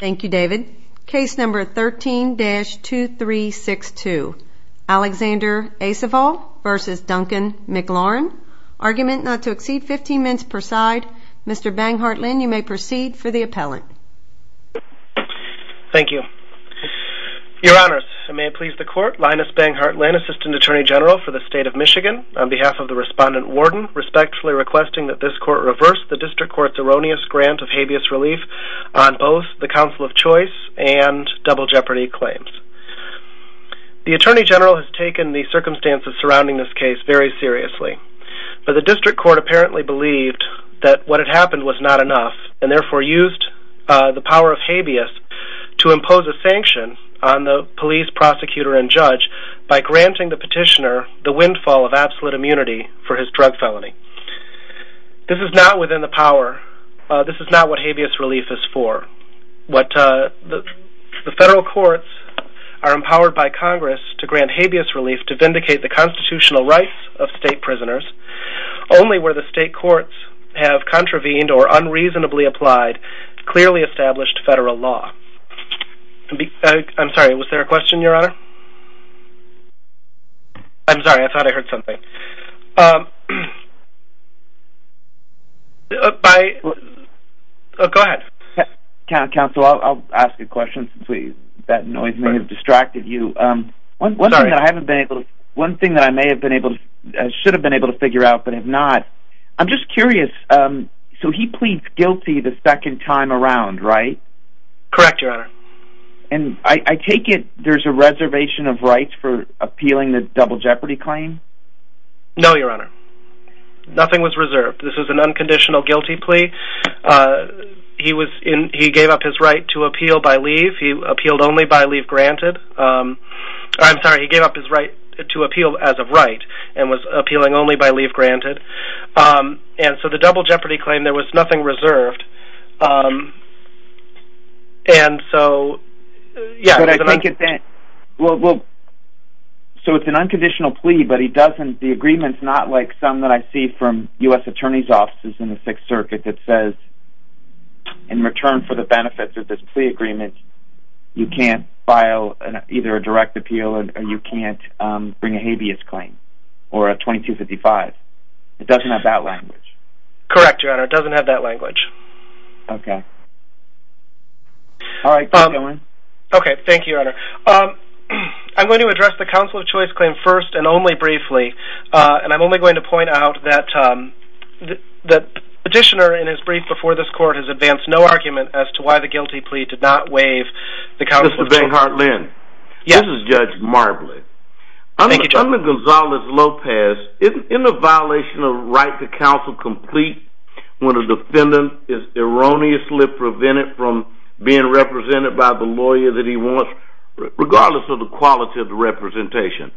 Thank you, David. Case number 13-2362, Alexander Aceval v. Duncan MacLaren. Argument not to exceed 15 minutes per side. Mr. Banghartlin, you may proceed for the appellant. Thank you. Your Honors, I may please the Court. Linus Banghartlin, Assistant Attorney General for the State of Michigan, on behalf of the Respondent Warden, respectfully requesting that this Court reverse the District Court's erroneous grant of habeas relief on both the Council of Choice and Double Jeopardy claims. The Attorney General has taken the circumstances surrounding this case very seriously, but the District Court apparently believed that what had happened was not enough, and therefore used the power of habeas to impose a sanction on the police, prosecutor, and judge by granting the petitioner the windfall of absolute What the federal courts are empowered by Congress to grant habeas relief to vindicate the constitutional rights of state prisoners, only where the state courts have contravened or unreasonably applied clearly established federal law. I'm sorry, was there a question, Your Honor? I'm sorry, I thought I heard something. Go ahead. Counsel, I'll ask a question since that noise may have distracted you. One thing that I should have been able to figure out but have not, I'm just curious, so he pleads guilty the second time around, right? Correct, Your Honor. And I take it there's a reservation of rights for appealing the Double Jeopardy claim? No, Your Honor. Nothing was reserved. This was an unconditional guilty plea. He gave up his right to appeal as of right and was So it's an unconditional plea, but the agreement's not like some that I see from U.S. attorney's offices in the 6th Circuit that says in return for the benefits of this plea agreement, you can't file either a direct appeal or you can't bring a habeas claim, or a 2255. It doesn't have that language. Correct, Your Honor. It doesn't have that language. Okay. All right, keep going. Okay, thank you, Your Honor. I'm going to address the Council of Choice claim first and only briefly, and I'm only going to point out that the petitioner in his brief before this court has advanced no argument as to why the guilty plea did not waive the Council of Choice claim. This is Judge Marbley. Under Gonzalez-Lopez, isn't a violation of the right to counsel complete when a defendant is erroneously prevented from being represented by the lawyer that he wants, regardless of the quality of the representation?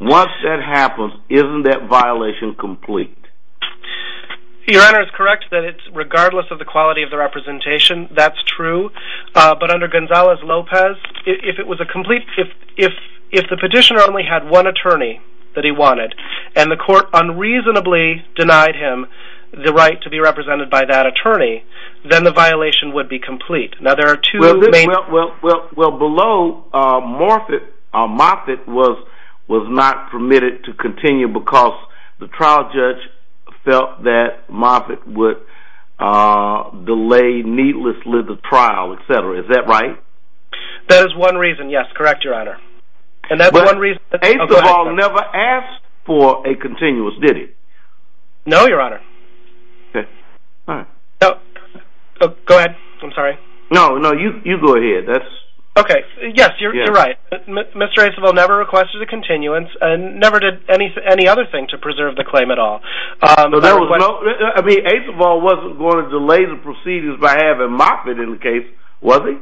Once that happens, isn't that violation complete? Your Honor, it's correct that it's regardless of the quality of the representation. That's true. But under Gonzalez-Lopez, if the petitioner only had one attorney that he wanted, and the court unreasonably denied him the right to be represented by that attorney, then the violation would be complete. Well, below, Moffitt was not permitted to continue because the trial judge felt that Moffitt would delay needlessly the trial, etc. Is that right? That is one reason, yes. Correct, Your Honor. But 8th of all never asked for a continuous, did he? No, Your Honor. Go ahead, I'm sorry. No, no, you go ahead. Okay, yes, you're right. Mr. Acevall never requested a continuance and never did any other thing to preserve the claim at all. I mean, Acevall wasn't going to delay the proceedings by having Moffitt in the case, was he?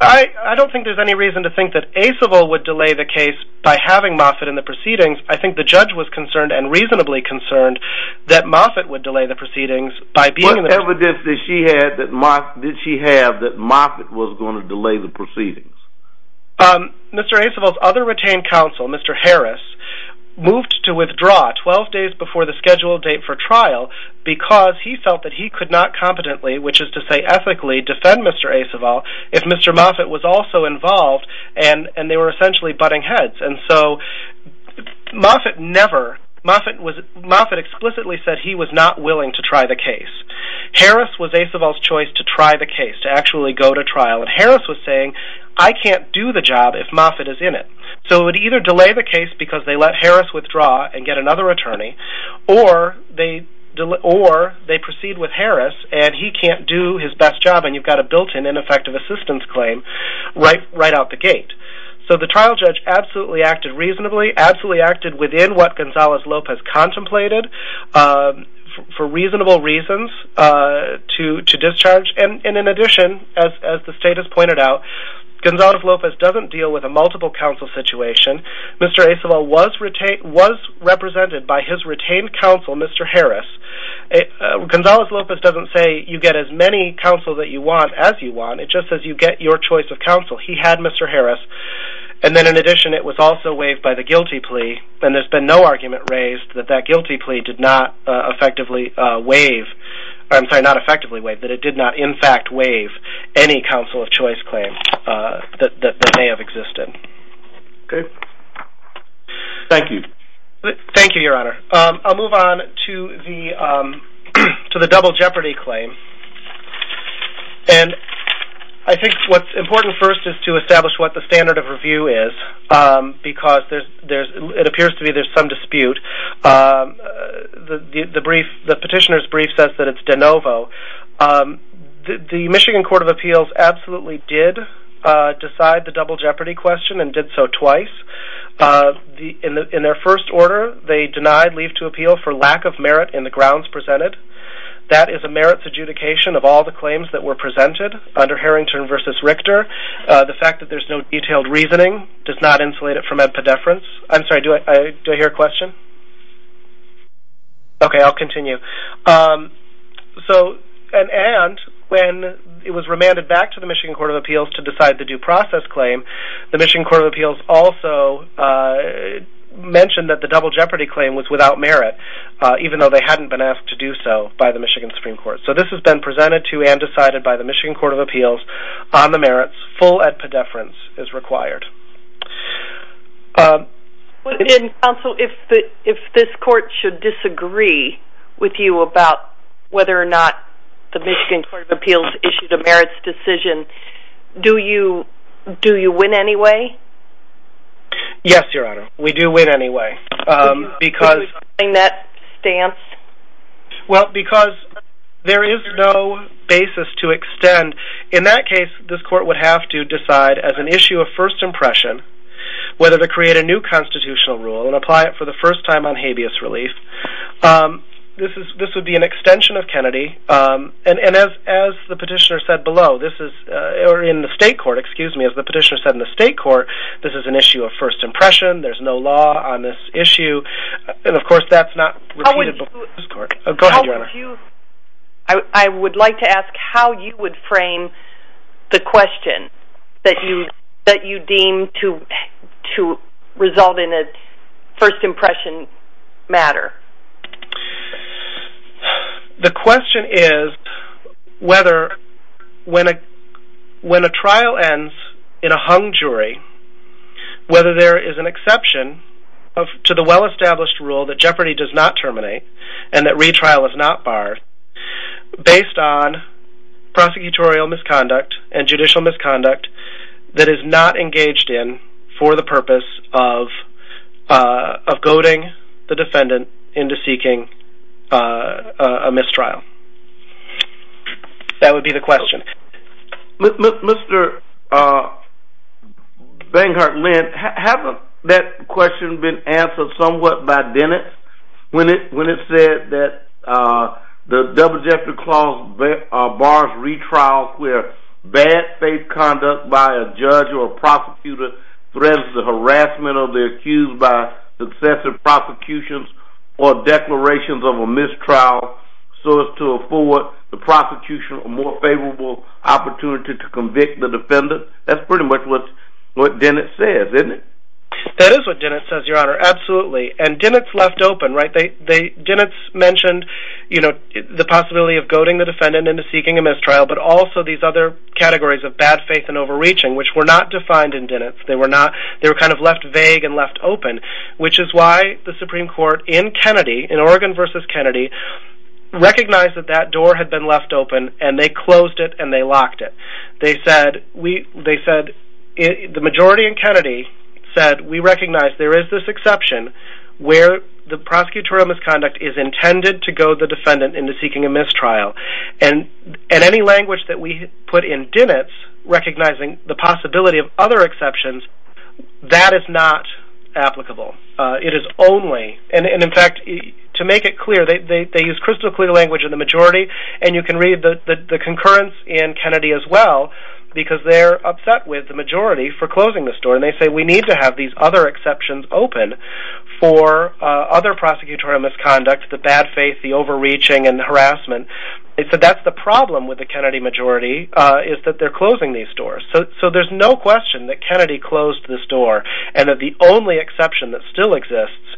I don't think there's any reason to think that Acevall would delay the case by having Moffitt in the proceedings. I think the judge was concerned and reasonably concerned that Moffitt would delay the proceedings. What evidence did she have that Moffitt was going to delay the proceedings? Mr. Acevall's other retained counsel, Mr. Harris, moved to withdraw 12 days before the scheduled date for trial because he felt that he could not competently, which is to say ethically, defend Mr. Acevall if Mr. Moffitt was also involved and they were essentially butting heads. And so Moffitt never, Moffitt explicitly said he was not willing to try the case. Harris was Acevall's choice to try the case, to actually go to trial, and Harris was saying, I can't do the job if Moffitt is in it. So it would either delay the case because they let Harris withdraw and get another attorney, or they proceed with Harris and he can't do his best job and you've got a built-in ineffective assistance claim right out the gate. So the trial judge absolutely acted reasonably, absolutely acted within what Gonzalez-Lopez contemplated for reasonable reasons to discharge. And in addition, as the state has pointed out, Gonzalez-Lopez doesn't deal with a multiple counsel situation. Mr. Acevall was represented by his retained counsel, Mr. Harris. Gonzalez-Lopez doesn't say you get as many counsel that you want as you want. It just says you get your choice of counsel. He had Mr. Harris. And then in addition, it was also waived by the guilty plea. And there's been no argument raised that that guilty plea did not effectively waive, I'm sorry, not effectively waive, that it did not in fact waive any counsel of choice claim that may have existed. Okay. Thank you. Thank you, Your Honor. I'll move on to the double jeopardy claim. And I think what's important first is to establish what the standard of review is because it appears to me there's some dispute. The petitioner's brief says that it's de novo. The Michigan Court of Appeals absolutely did decide the double jeopardy question and did so twice. In their first order, they denied leave to appeal for lack of merit in the grounds presented. That is a merits adjudication of all the claims that were presented under Harrington v. Richter. The fact that there's no detailed reasoning does not insulate it from epidefrance. I'm sorry, do I hear a question? Okay, I'll continue. And when it was remanded back to the Michigan Court of Appeals to decide the due process claim, the Michigan Court of Appeals also mentioned that the double jeopardy claim was without merit, even though they hadn't been asked to do so by the Michigan Supreme Court. So this has been presented to and decided by the Michigan Court of Appeals on the merits, full epidefrance is required. Counsel, if this court should disagree with you about whether or not the Michigan Court of Appeals issued a merits decision, do you win anyway? Yes, Your Honor, we do win anyway. Could you explain that stance? In that case, this court would have to decide as an issue of first impression whether to create a new constitutional rule and apply it for the first time on habeas relief. This would be an extension of Kennedy. And as the petitioner said in the state court, this is an issue of first impression. There's no law on this issue. And of course, that's not repeated before this court. I would like to ask how you would frame the question that you deem to result in a first impression matter. The question is whether when a trial ends in a hung jury, whether there is an exception to the well-established rule that jeopardy does not terminate and that retrial is not barred based on prosecutorial misconduct and judicial misconduct that is not engaged in for the purpose of goading the defendant into seeking a mistrial. That would be the question. Mr. Banghart-Linn, hasn't that question been answered somewhat by Dennett when it said that the double-decker clause bars retrials where bad faith conduct by a judge or prosecutor threatens the harassment of the accused by successive prosecutions or declarations of a mistrial so as to afford the prosecution a more favorable opportunity to convict the defendant? That's pretty much what Dennett says, isn't it? That is what Dennett says, Your Honor, absolutely. And Dennett's left open, right? Dennett's mentioned the possibility of goading the defendant into seeking a mistrial but also these other categories of bad faith and overreaching which were not defined in Dennett's. They were kind of left vague and left open, which is why the Supreme Court in Oregon v. Kennedy recognized that that door had been left open and they closed it and they locked it. The majority in Kennedy said we recognize there is this exception where the prosecutorial misconduct is intended to goad the defendant into seeking a mistrial and any language that we put in Dennett's recognizing the possibility of other exceptions, that is not applicable. It is only, and in fact, to make it clear, they use crystal clear language in the majority and you can read the concurrence in Kennedy as well because they're upset with the majority for closing the store and they say we need to have these other exceptions open for other prosecutorial misconduct, the bad faith, the overreaching and the harassment. They said that's the problem with the Kennedy majority is that they're closing these stores. So there's no question that Kennedy closed this door and that the only exception that still exists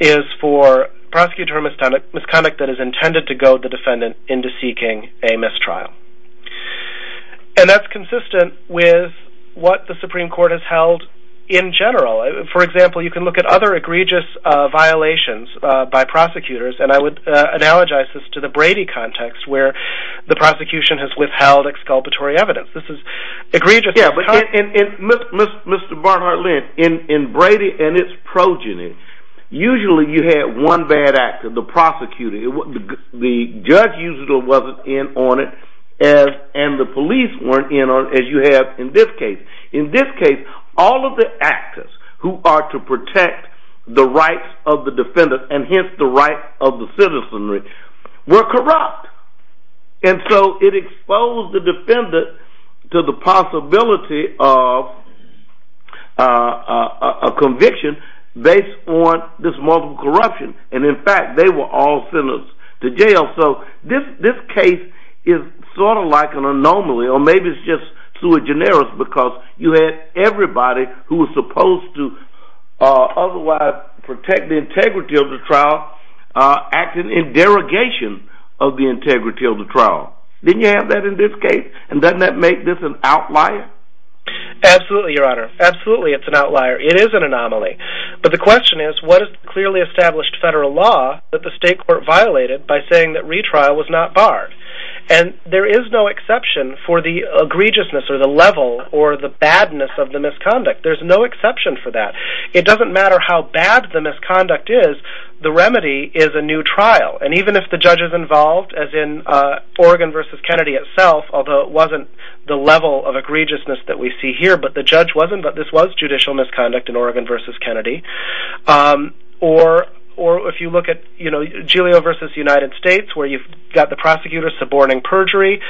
is for prosecutorial misconduct that is intended to goad the defendant into seeking a mistrial. And that's consistent with what the Supreme Court has held in general. For example, you can look at other egregious violations by prosecutors and I would analogize this to the Brady context where the prosecution has withheld exculpatory evidence. Mr. Barnhart-Lynn, in Brady and its progeny, usually you had one bad actor, the prosecutor. The judge usually wasn't in on it and the police weren't in on it as you have in this case. In this case, all of the actors who are to protect the rights of the defendant and hence the rights of the citizenry were corrupt. And so it exposed the defendant to the possibility of conviction based on this multiple corruption. And in fact, they were all sentenced to jail. So this case is sort of like an anomaly or maybe it's just sui generis because you had everybody who was supposed to otherwise protect the integrity of the trial acting in derogation of the integrity of the trial. Didn't you have that in this case? And doesn't that make this an outlier? Absolutely, Your Honor. Absolutely, it's an outlier. It is an anomaly. But the question is, what is clearly established federal law that the state court violated by saying that retrial was not barred? And there is no exception for the egregiousness or the level or the badness of the misconduct. There's no exception for that. It doesn't matter how bad the misconduct is, the remedy is a new trial. And even if the judge is involved, as in Oregon v. Kennedy itself, although it wasn't the level of egregiousness that we see here, but the judge wasn't, but this was judicial misconduct in Oregon v. Kennedy. Or if you look at, you know, Julio v. United States, where you've got the prosecutor suborning perjury,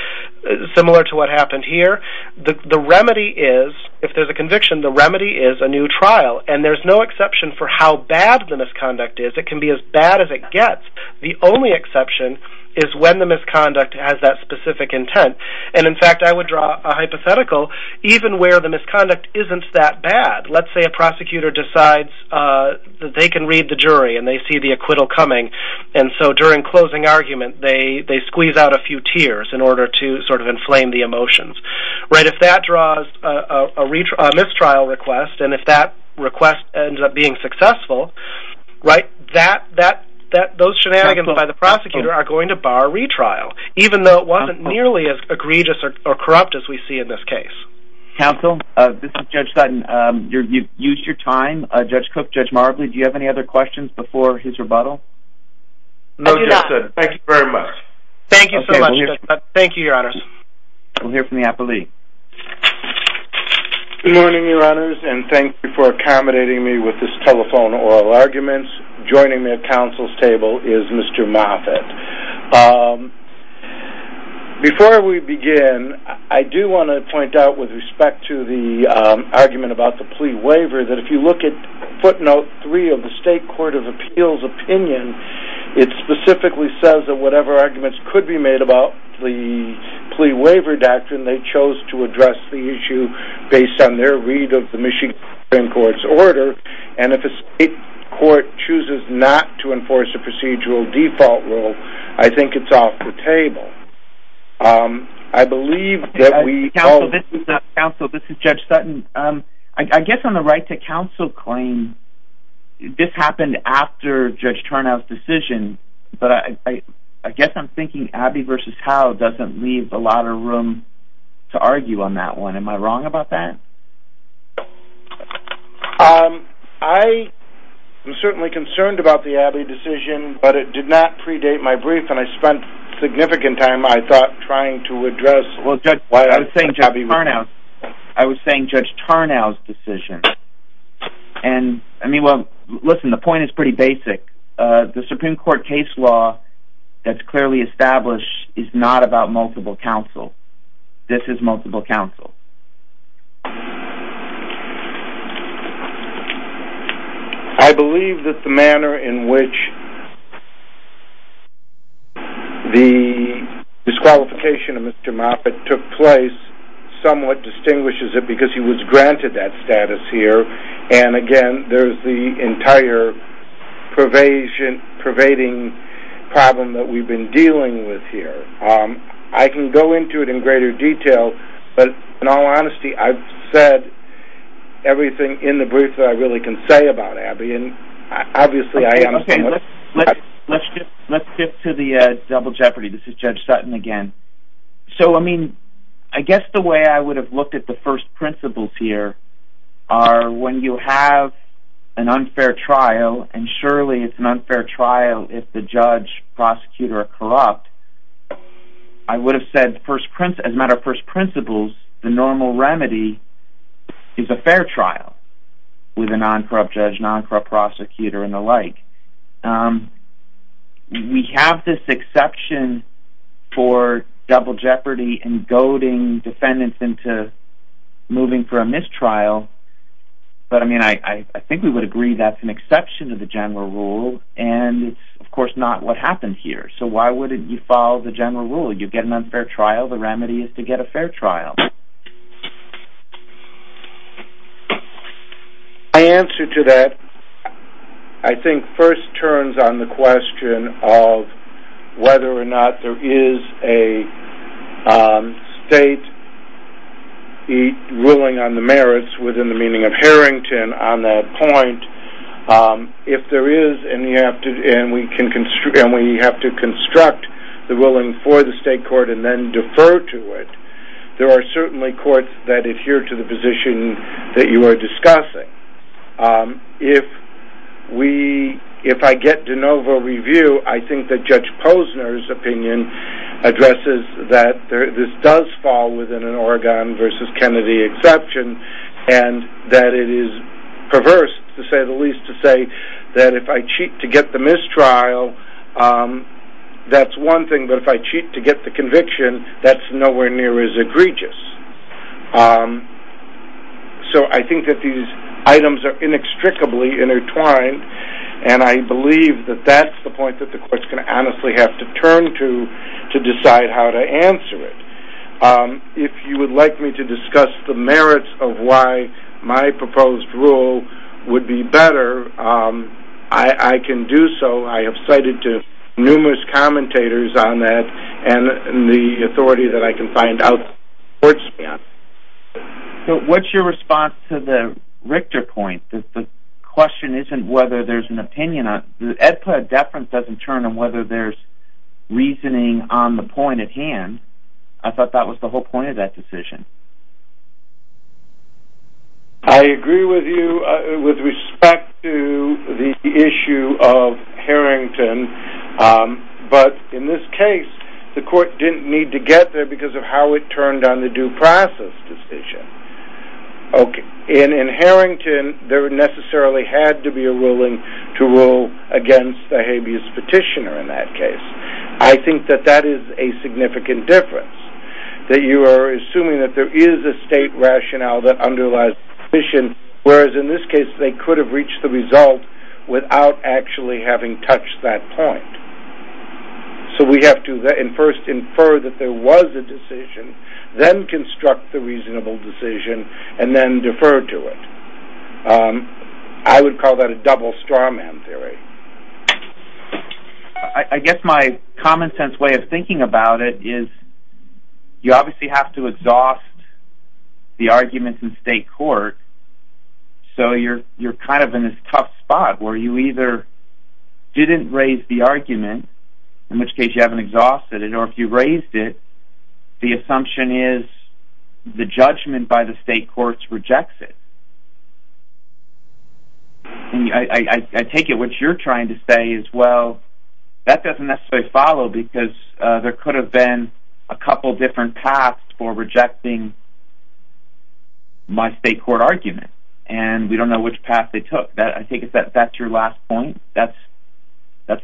similar to what happened here. The remedy is, if there's a conviction, the remedy is a new trial. And there's no exception for how bad the misconduct is. It can be as bad as it gets. The only exception is when the misconduct has that specific intent. And, in fact, I would draw a hypothetical even where the misconduct isn't that bad. Let's say a prosecutor decides that they can read the jury and they see the acquittal coming. And so during closing argument, they squeeze out a few tears in order to sort of inflame the emotions. If that draws a mistrial request, and if that request ends up being successful, those shenanigans by the prosecutor are going to bar retrial, even though it wasn't nearly as egregious or corrupt as we see in this case. Counsel, this is Judge Sutton. You've used your time. Judge Cook, Judge Marbley, do you have any other questions before his rebuttal? No, Judge Sutton. Thank you very much. Thank you so much, Judge Sutton. Thank you, Your Honors. We'll hear from the appellee. Good morning, Your Honors, and thank you for accommodating me with this telephone oral arguments. Joining me at counsel's table is Mr. Moffitt. Before we begin, I do want to point out with respect to the argument about the plea waiver that if you look at footnote 3 of the State Court of Appeals opinion, it specifically says that whatever arguments could be made about the plea waiver doctrine, they chose to address the issue based on their read of the Michigan Supreme Court's order, and if a state court chooses not to enforce a procedural default rule, I think it's off the table. Counsel, this is Judge Sutton. I guess on the right to counsel claim, this happened after Judge Turnow's decision, but I guess I'm thinking Abby v. Howe doesn't leave a lot of room to argue on that one. Am I wrong about that? I am certainly concerned about the Abby decision, but it did not predate my brief, and I spent significant time, I thought, trying to address why Abby v. Howe... Well, Judge, I was saying Judge Turnow's decision. And, I mean, well, listen, the point is pretty basic. The Supreme Court case law that's clearly established is not about multiple counsel. This is multiple counsel. I believe that the manner in which the disqualification of Mr. Moffitt took place somewhat distinguishes it because he was granted that status here, and, again, there's the entire pervading problem that we've been dealing with here. I can go into it in greater detail, but, in all honesty, I've said everything in the brief that I really can say about Abby, and, obviously, I am... Okay, let's shift to the double jeopardy. This is Judge Sutton again. So, I mean, I guess the way I would have looked at the first principles here are when you have an unfair trial, and, surely, it's an unfair trial if the judge, prosecutor are corrupt. I would have said, as a matter of first principles, the normal remedy is a fair trial with a non-corrupt judge, non-corrupt prosecutor, and the like. We have this exception for double jeopardy and goading defendants into moving for a mistrial, but, I mean, I think we would agree that's an exception to the general rule, and it's, of course, not what happened here. So why wouldn't you follow the general rule? You get an unfair trial, the remedy is to get a fair trial. My answer to that, I think, first turns on the question of whether or not there is a state ruling on the merits within the meaning of Harrington on that point. If there is, and we have to construct the ruling for the state court and then defer to it, there are certainly courts that adhere to the position that you are discussing. If I get de novo review, I think that Judge Posner's opinion addresses that this does fall within an Oregon v. Kennedy exception and that it is perverse, to say the least, to say that if I cheat to get the mistrial, that's one thing, but if I cheat to get the conviction, that's nowhere near as egregious. So I think that these items are inextricably intertwined, and I believe that that's the point that the court's going to honestly have to turn to to decide how to answer it. If you would like me to discuss the merits of why my proposed rule would be better, I can do so. I have cited to numerous commentators on that, and the authority that I can find out supports me on that. So what's your response to the Richter point? The question isn't whether there's an opinion on it. The Ed Platt deference doesn't turn on whether there's reasoning on the point at hand. I thought that was the whole point of that decision. I agree with you with respect to the issue of Harrington, but in this case the court didn't need to get there because of how it turned on the due process decision. In Harrington, there necessarily had to be a ruling to rule against the habeas petitioner in that case. I think that that is a significant difference, that you are assuming that there is a state rationale that underlies the petition, whereas in this case they could have reached the result without actually having touched that point. So we have to first infer that there was a decision, then construct the reasonable decision, and then defer to it. I would call that a double straw man theory. I guess my common sense way of thinking about it is, you obviously have to exhaust the arguments in state court, so you're kind of in this tough spot where you either didn't raise the argument, in which case you haven't exhausted it, or if you raised it, the assumption is the judgment by the state courts rejects it. I take it what you're trying to say is, well, that doesn't necessarily follow, because there could have been a couple different paths for rejecting my state court argument, and we don't know which path they took. I think that's your last point? That's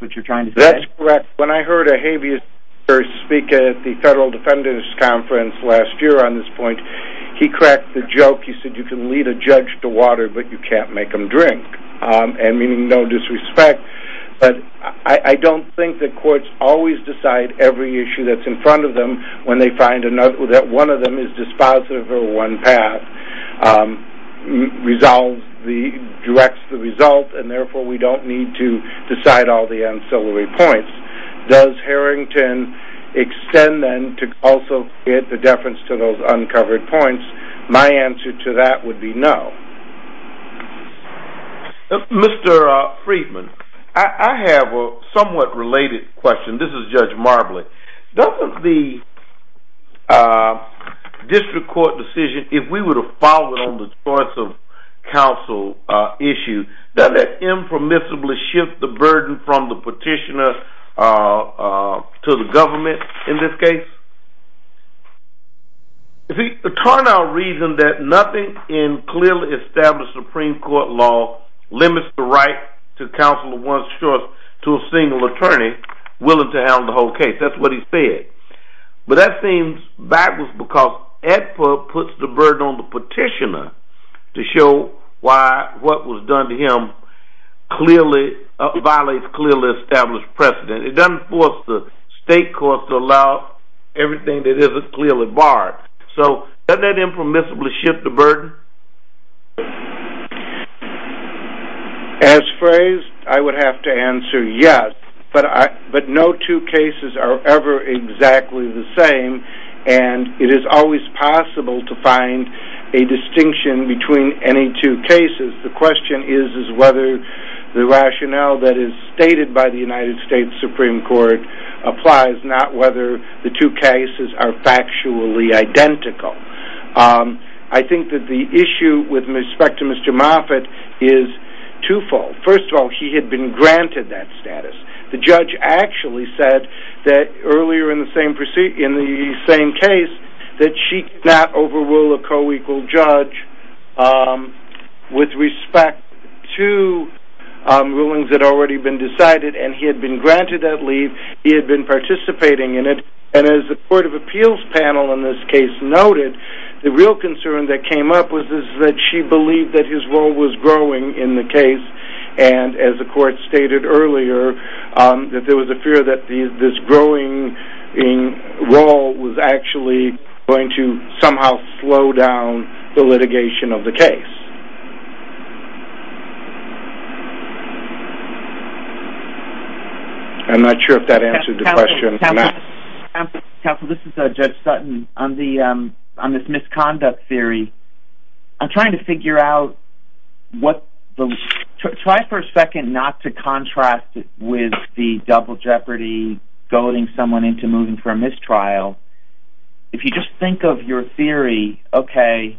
what you're trying to say? That's correct. When I heard a habeas petitioner speak at the Federal Defenders Conference last year on this point, he cracked the joke. He said you can lead a judge to water, but you can't make them drink, and meaning no disrespect. But I don't think that courts always decide every issue that's in front of them when they find that one of them is dispositive or one path directs the result, and therefore we don't need to decide all the ancillary points. Does Harrington extend then to also get the deference to those uncovered points? My answer to that would be no. Mr. Friedman, I have a somewhat related question. This is Judge Marbley. Doesn't the district court decision, if we were to follow it on the choice of counsel issue, that it impermissibly shifts the burden from the petitioner to the government in this case? The turnout reasoned that nothing in clearly established Supreme Court law limits the right to counsel of one's choice to a single attorney willing to handle the whole case. That's what he said. But that seems fabulous because it puts the burden on the petitioner to show why what was done to him clearly violates clearly established precedent. It doesn't force the state court to allow everything that isn't clearly barred. So doesn't that impermissibly shift the burden? As phrased, I would have to answer yes, but no two cases are ever exactly the same, and it is always possible to find a distinction between any two cases. The question is whether the rationale that is stated by the United States Supreme Court applies, not whether the two cases are factually identical. I think that the issue with respect to Mr. Moffitt is twofold. First of all, he had been granted that status. The judge actually said that earlier in the same case that she could not overrule a co-equal judge with respect to rulings that had already been decided, and he had been granted that leave. He had been participating in it. And as the Court of Appeals panel in this case noted, the real concern that came up was that she believed that his role was growing in the case, and as the court stated earlier, that there was a fear that this growing role was actually going to somehow slow down the litigation of the case. I'm not sure if that answered the question or not. Counsel, this is Judge Sutton. On this misconduct theory, I'm trying to figure out what the... Try for a second not to contrast it with the double jeopardy, goading someone into moving for a mistrial. If you just think of your theory, okay,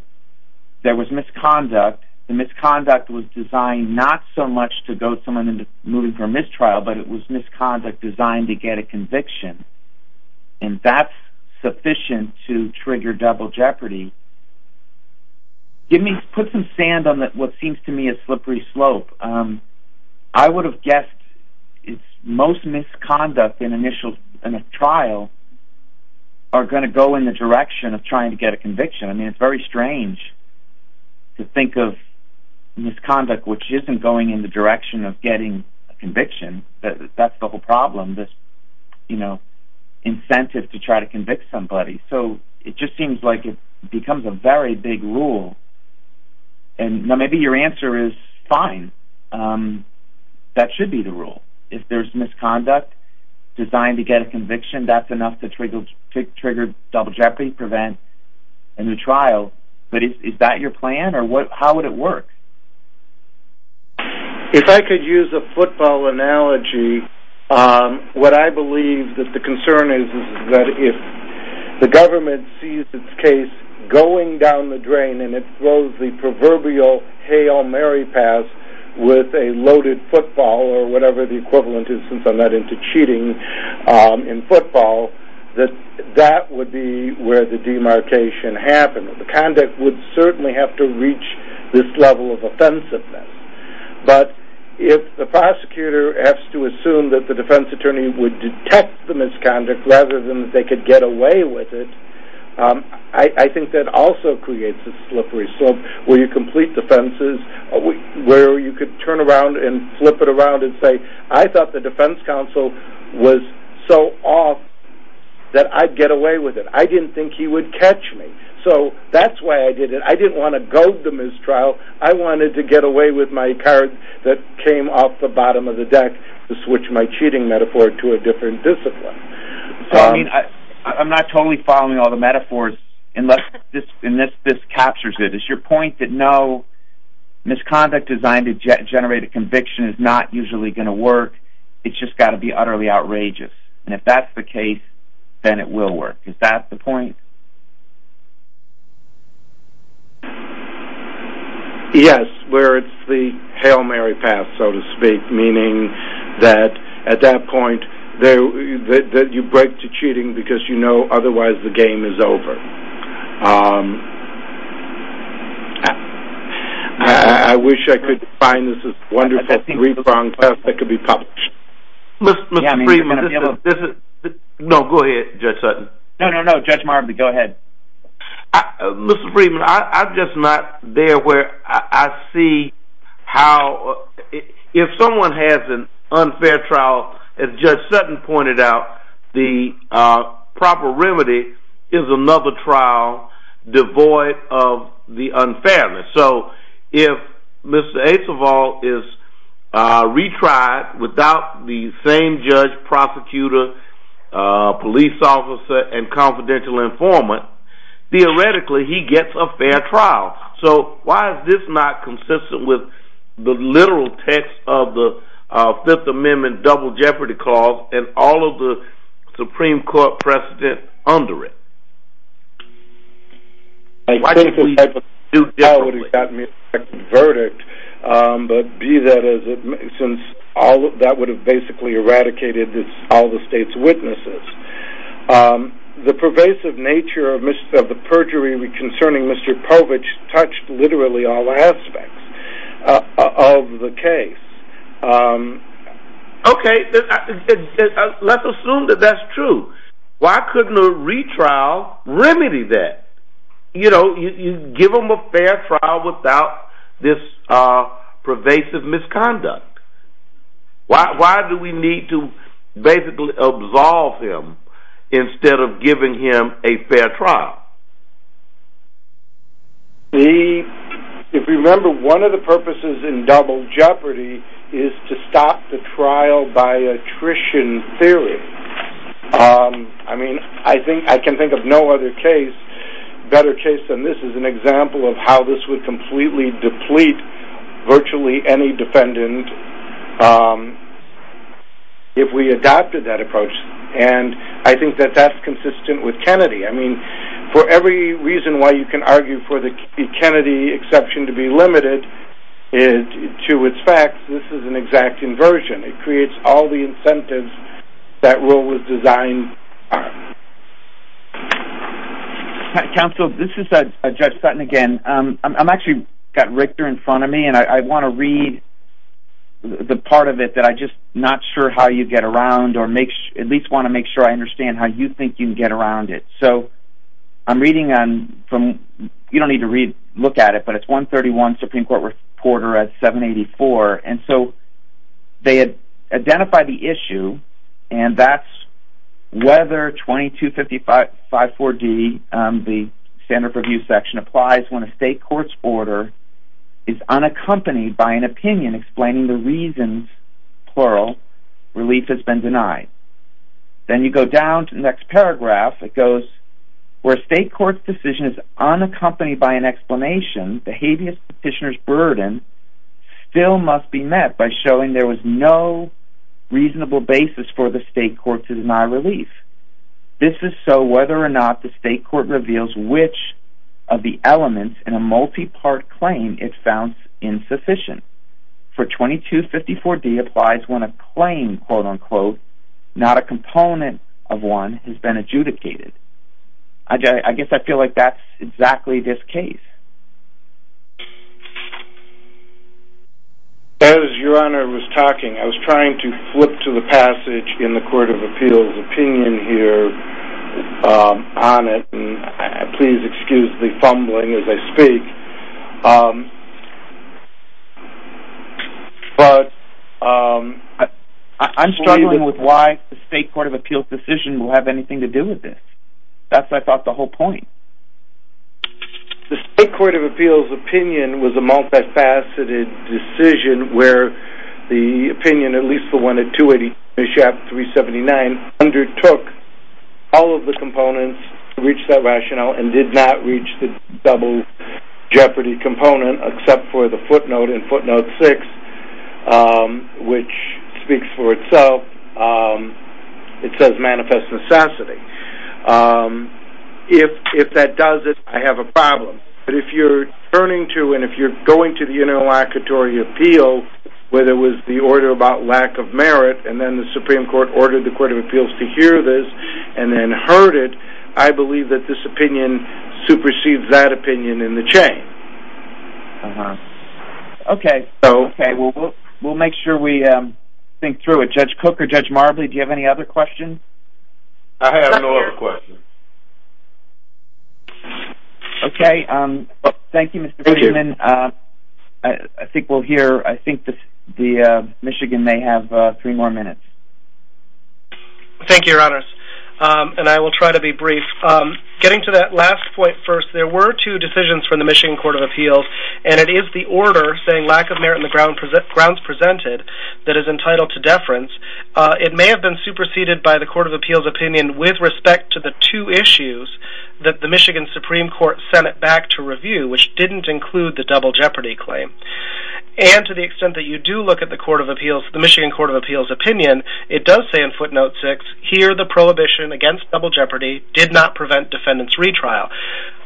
there was misconduct. The misconduct was designed not so much to goad someone into moving for a mistrial, but it was misconduct designed to get a conviction, and that's sufficient to trigger double jeopardy. Put some sand on what seems to me a slippery slope. I would have guessed most misconduct in a trial are going to go in the direction of trying to get a conviction. I mean, it's very strange to think of misconduct and that's the whole problem, this incentive to try to convict somebody. It just seems like it becomes a very big rule. Now, maybe your answer is fine. That should be the rule. If there's misconduct designed to get a conviction, that's enough to trigger double jeopardy, prevent a new trial. But is that your plan, or how would it work? If I could use a football analogy, what I believe that the concern is is that if the government sees its case going down the drain and it throws the proverbial Hail Mary pass with a loaded football or whatever the equivalent is, since I'm not into cheating in football, that that would be where the demarcation happens. Conduct would certainly have to reach this level of offensiveness. But if the prosecutor has to assume that the defense attorney would detect the misconduct rather than that they could get away with it, I think that also creates a slippery slope where you complete defenses, where you could turn around and flip it around and say, I thought the defense counsel was so off that I'd get away with it. I didn't think he would catch me, so that's why I did it. I didn't want to goad the mistrial. I wanted to get away with my card that came off the bottom of the deck to switch my cheating metaphor to a different discipline. I'm not totally following all the metaphors unless this captures it. Is your point that no, misconduct designed to generate a conviction is not usually going to work? It's just got to be utterly outrageous. And if that's the case, then it will work. Is that the point? Yes, where it's the Hail Mary path, so to speak, meaning that at that point you break to cheating because you know otherwise the game is over. I wish I could find this wonderful three-pronged test that could be published. No, go ahead, Judge Sutton. No, no, no, Judge Marvin, go ahead. Mr. Friedman, I'm just not there where I see how if someone has an unfair trial, as Judge Sutton pointed out, the proper remedy is another trial devoid of the unfairness. So if Mr. Aceval is retried without the same judge, prosecutor, police officer, and confidential informant, theoretically he gets a fair trial. So why is this not consistent with the literal text of the Fifth Amendment double jeopardy clause and all of the Supreme Court precedent under it? A critical type of trial would have gotten me a perfect verdict, but be that as it may, since that would have basically eradicated all the state's witnesses. The pervasive nature of the perjury concerning Mr. Povich touched literally all aspects of the case. Okay, let's assume that that's true. Why couldn't a retrial remedy that? You know, you give him a fair trial without this pervasive misconduct. Why do we need to basically absolve him instead of giving him a fair trial? If you remember, one of the purposes in double jeopardy is to stop the trial by attrition theory. I mean, I can think of no other case, better case than this, as an example of how this would completely deplete virtually any defendant if we adopted that approach. And I think that that's consistent with Kennedy. I mean, for every reason why you can argue for the Kennedy exception to be limited to its facts, this is an exact inversion. It creates all the incentives that rule was designed on. Counsel, this is Judge Sutton again. I've actually got Richter in front of me, and I want to read the part of it that I'm just not sure how you get around or at least want to make sure I understand how you think you can get around it. So I'm reading on from, you don't need to look at it, but it's 131, Supreme Court reporter at 784. And so they had identified the issue, and that's whether 22554D, the standard for abuse section, applies when a state court's order is unaccompanied by an opinion explaining the reasons, plural, relief has been denied. Then you go down to the next paragraph. It goes, where a state court's decision is unaccompanied by an explanation, the habeas petitioner's burden still must be met by showing there was no reasonable basis for the state court to deny relief. This is so whether or not the state court reveals which of the elements in a multi-part claim it found insufficient. For 2254D applies when a claim, quote unquote, not a component of one has been adjudicated. I guess I feel like that's exactly this case. As your Honor was talking, I was trying to flip to the passage in the Court of Appeals opinion here on it, and please excuse the fumbling as I speak. But I'm struggling with why the State Court of Appeals decision will have anything to do with this. That's, I thought, the whole point. The State Court of Appeals opinion was a multifaceted decision where the opinion, at least the one at 283 Chapter 379, undertook all of the components to reach that rationale and did not reach the double jeopardy component except for the footnote in footnote 6, which speaks for itself. It says manifest necessity. If that does it, I have a problem. But if you're turning to and if you're going to the interlocutory appeal, whether it was the order about lack of merit and then the Supreme Court ordered the Court of Appeals to hear this and then heard it, I believe that this opinion supersedes that opinion in the chain. Okay. We'll make sure we think through it. Judge Cook or Judge Marbley, do you have any other questions? I have no other questions. Okay. Thank you, Mr. Freeman. I think we'll hear, I think the Michigan may have three more minutes. Thank you, Your Honors. And I will try to be brief. Getting to that last point first, there were two decisions from the Michigan Court of Appeals, and it is the order saying lack of merit in the grounds presented that is entitled to deference. It may have been superseded by the Court of Appeals opinion with respect to the two issues that the Michigan Supreme Court sent it back to review, which didn't include the double jeopardy claim. And to the extent that you do look at the Michigan Court of Appeals opinion, it does say in footnote six, here the prohibition against double jeopardy did not prevent defendant's retrial.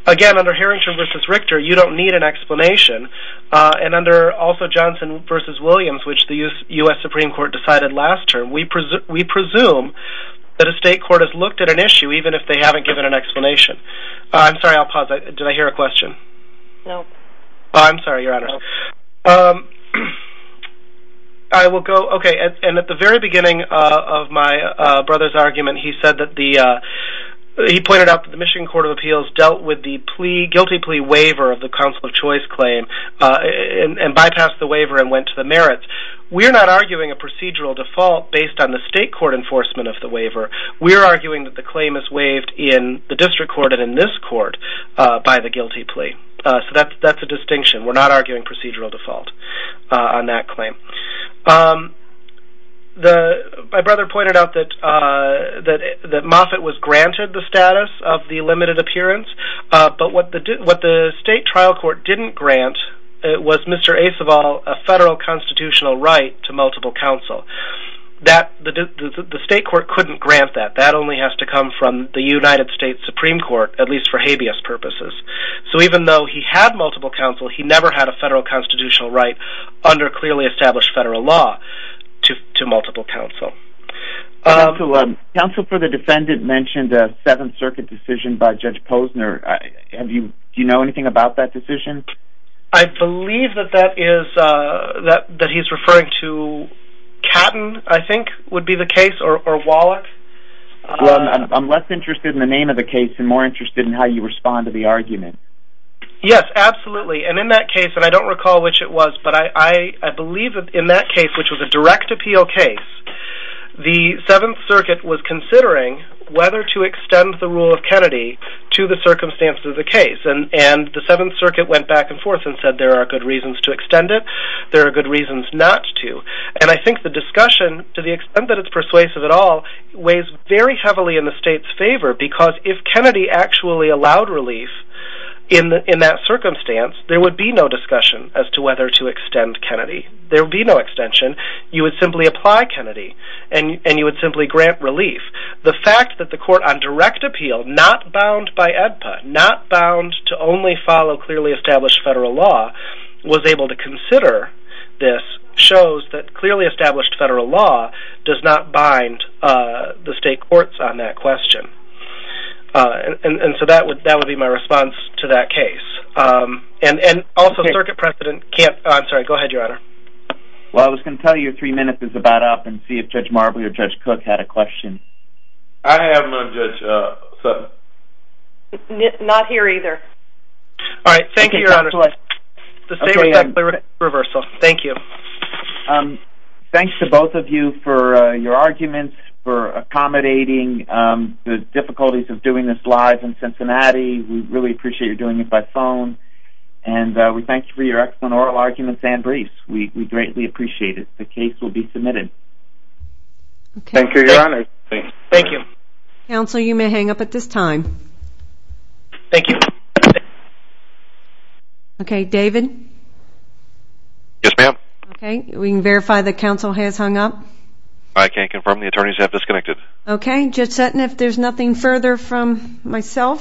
Again, under Harrington v. Richter, you don't need an explanation. And under also Johnson v. Williams, which the U.S. Supreme Court decided last term, we presume that a state court has looked at an issue even if they haven't given an explanation. I'm sorry, I'll pause. Did I hear a question? No. I'm sorry, Your Honor. I will go, okay, and at the very beginning of my brother's argument, he said that the, he pointed out that the Michigan Court of Appeals dealt with the plea, guilty plea waiver of the counsel of choice claim and bypassed the waiver and went to the merits. We are not arguing a procedural default based on the state court enforcement of the waiver. We are arguing that the claim is waived in the district court and in this court by the guilty plea. So that's a distinction. We're not arguing procedural default on that claim. My brother pointed out that Moffitt was granted the status of the limited appearance, but what the state trial court didn't grant was Mr. Acevall a federal constitutional right to multiple counsel. The state court couldn't grant that. That only has to come from the United States Supreme Court, at least for habeas purposes. So even though he had multiple counsel, he never had a federal constitutional right under clearly established federal law to multiple counsel. Counsel for the defendant mentioned a Seventh Circuit decision by Judge Posner. Do you know anything about that decision? I believe that that is, that he's referring to Catton, I think, would be the case, or Wallach. Well, I'm less interested in the name of the case and more interested in how you respond to the argument. Yes, absolutely, and in that case, and I don't recall which it was, but I believe in that case, which was a direct appeal case, the Seventh Circuit was considering whether to extend the rule of Kennedy to the circumstances of the case, and the Seventh Circuit went back and forth and said there are good reasons to extend it, there are good reasons not to, and I think the discussion, to the extent that it's persuasive at all, weighs very heavily in the state's favor because if Kennedy actually allowed relief in that circumstance, there would be no discussion as to whether to extend Kennedy. There would be no extension. You would simply apply Kennedy, and you would simply grant relief. The fact that the court on direct appeal, not bound by AEDPA, not bound to only follow clearly established federal law, was able to consider this shows that clearly established federal law does not bind the state courts on that question. And so that would be my response to that case. And also, the Circuit President can't... I'm sorry, go ahead, Your Honor. Well, I was going to tell you three minutes is about up and see if Judge Marbley or Judge Cook had a question. I have none, Judge Sutton. Not here either. All right, thank you, Your Honor. The same with that clear reversal. Thank you. Thanks to both of you for your arguments, for accommodating the difficulties of doing this live in Cincinnati. We really appreciate you doing it by phone. And we thank you for your excellent oral arguments and briefs. We greatly appreciate it. The case will be submitted. Thank you, Your Honor. Thank you. Counsel, you may hang up at this time. Thank you. Okay, David? Yes, ma'am. Okay, we can verify that counsel has hung up. I can confirm the attorneys have disconnected. Okay, Judge Sutton, if there's nothing further from myself...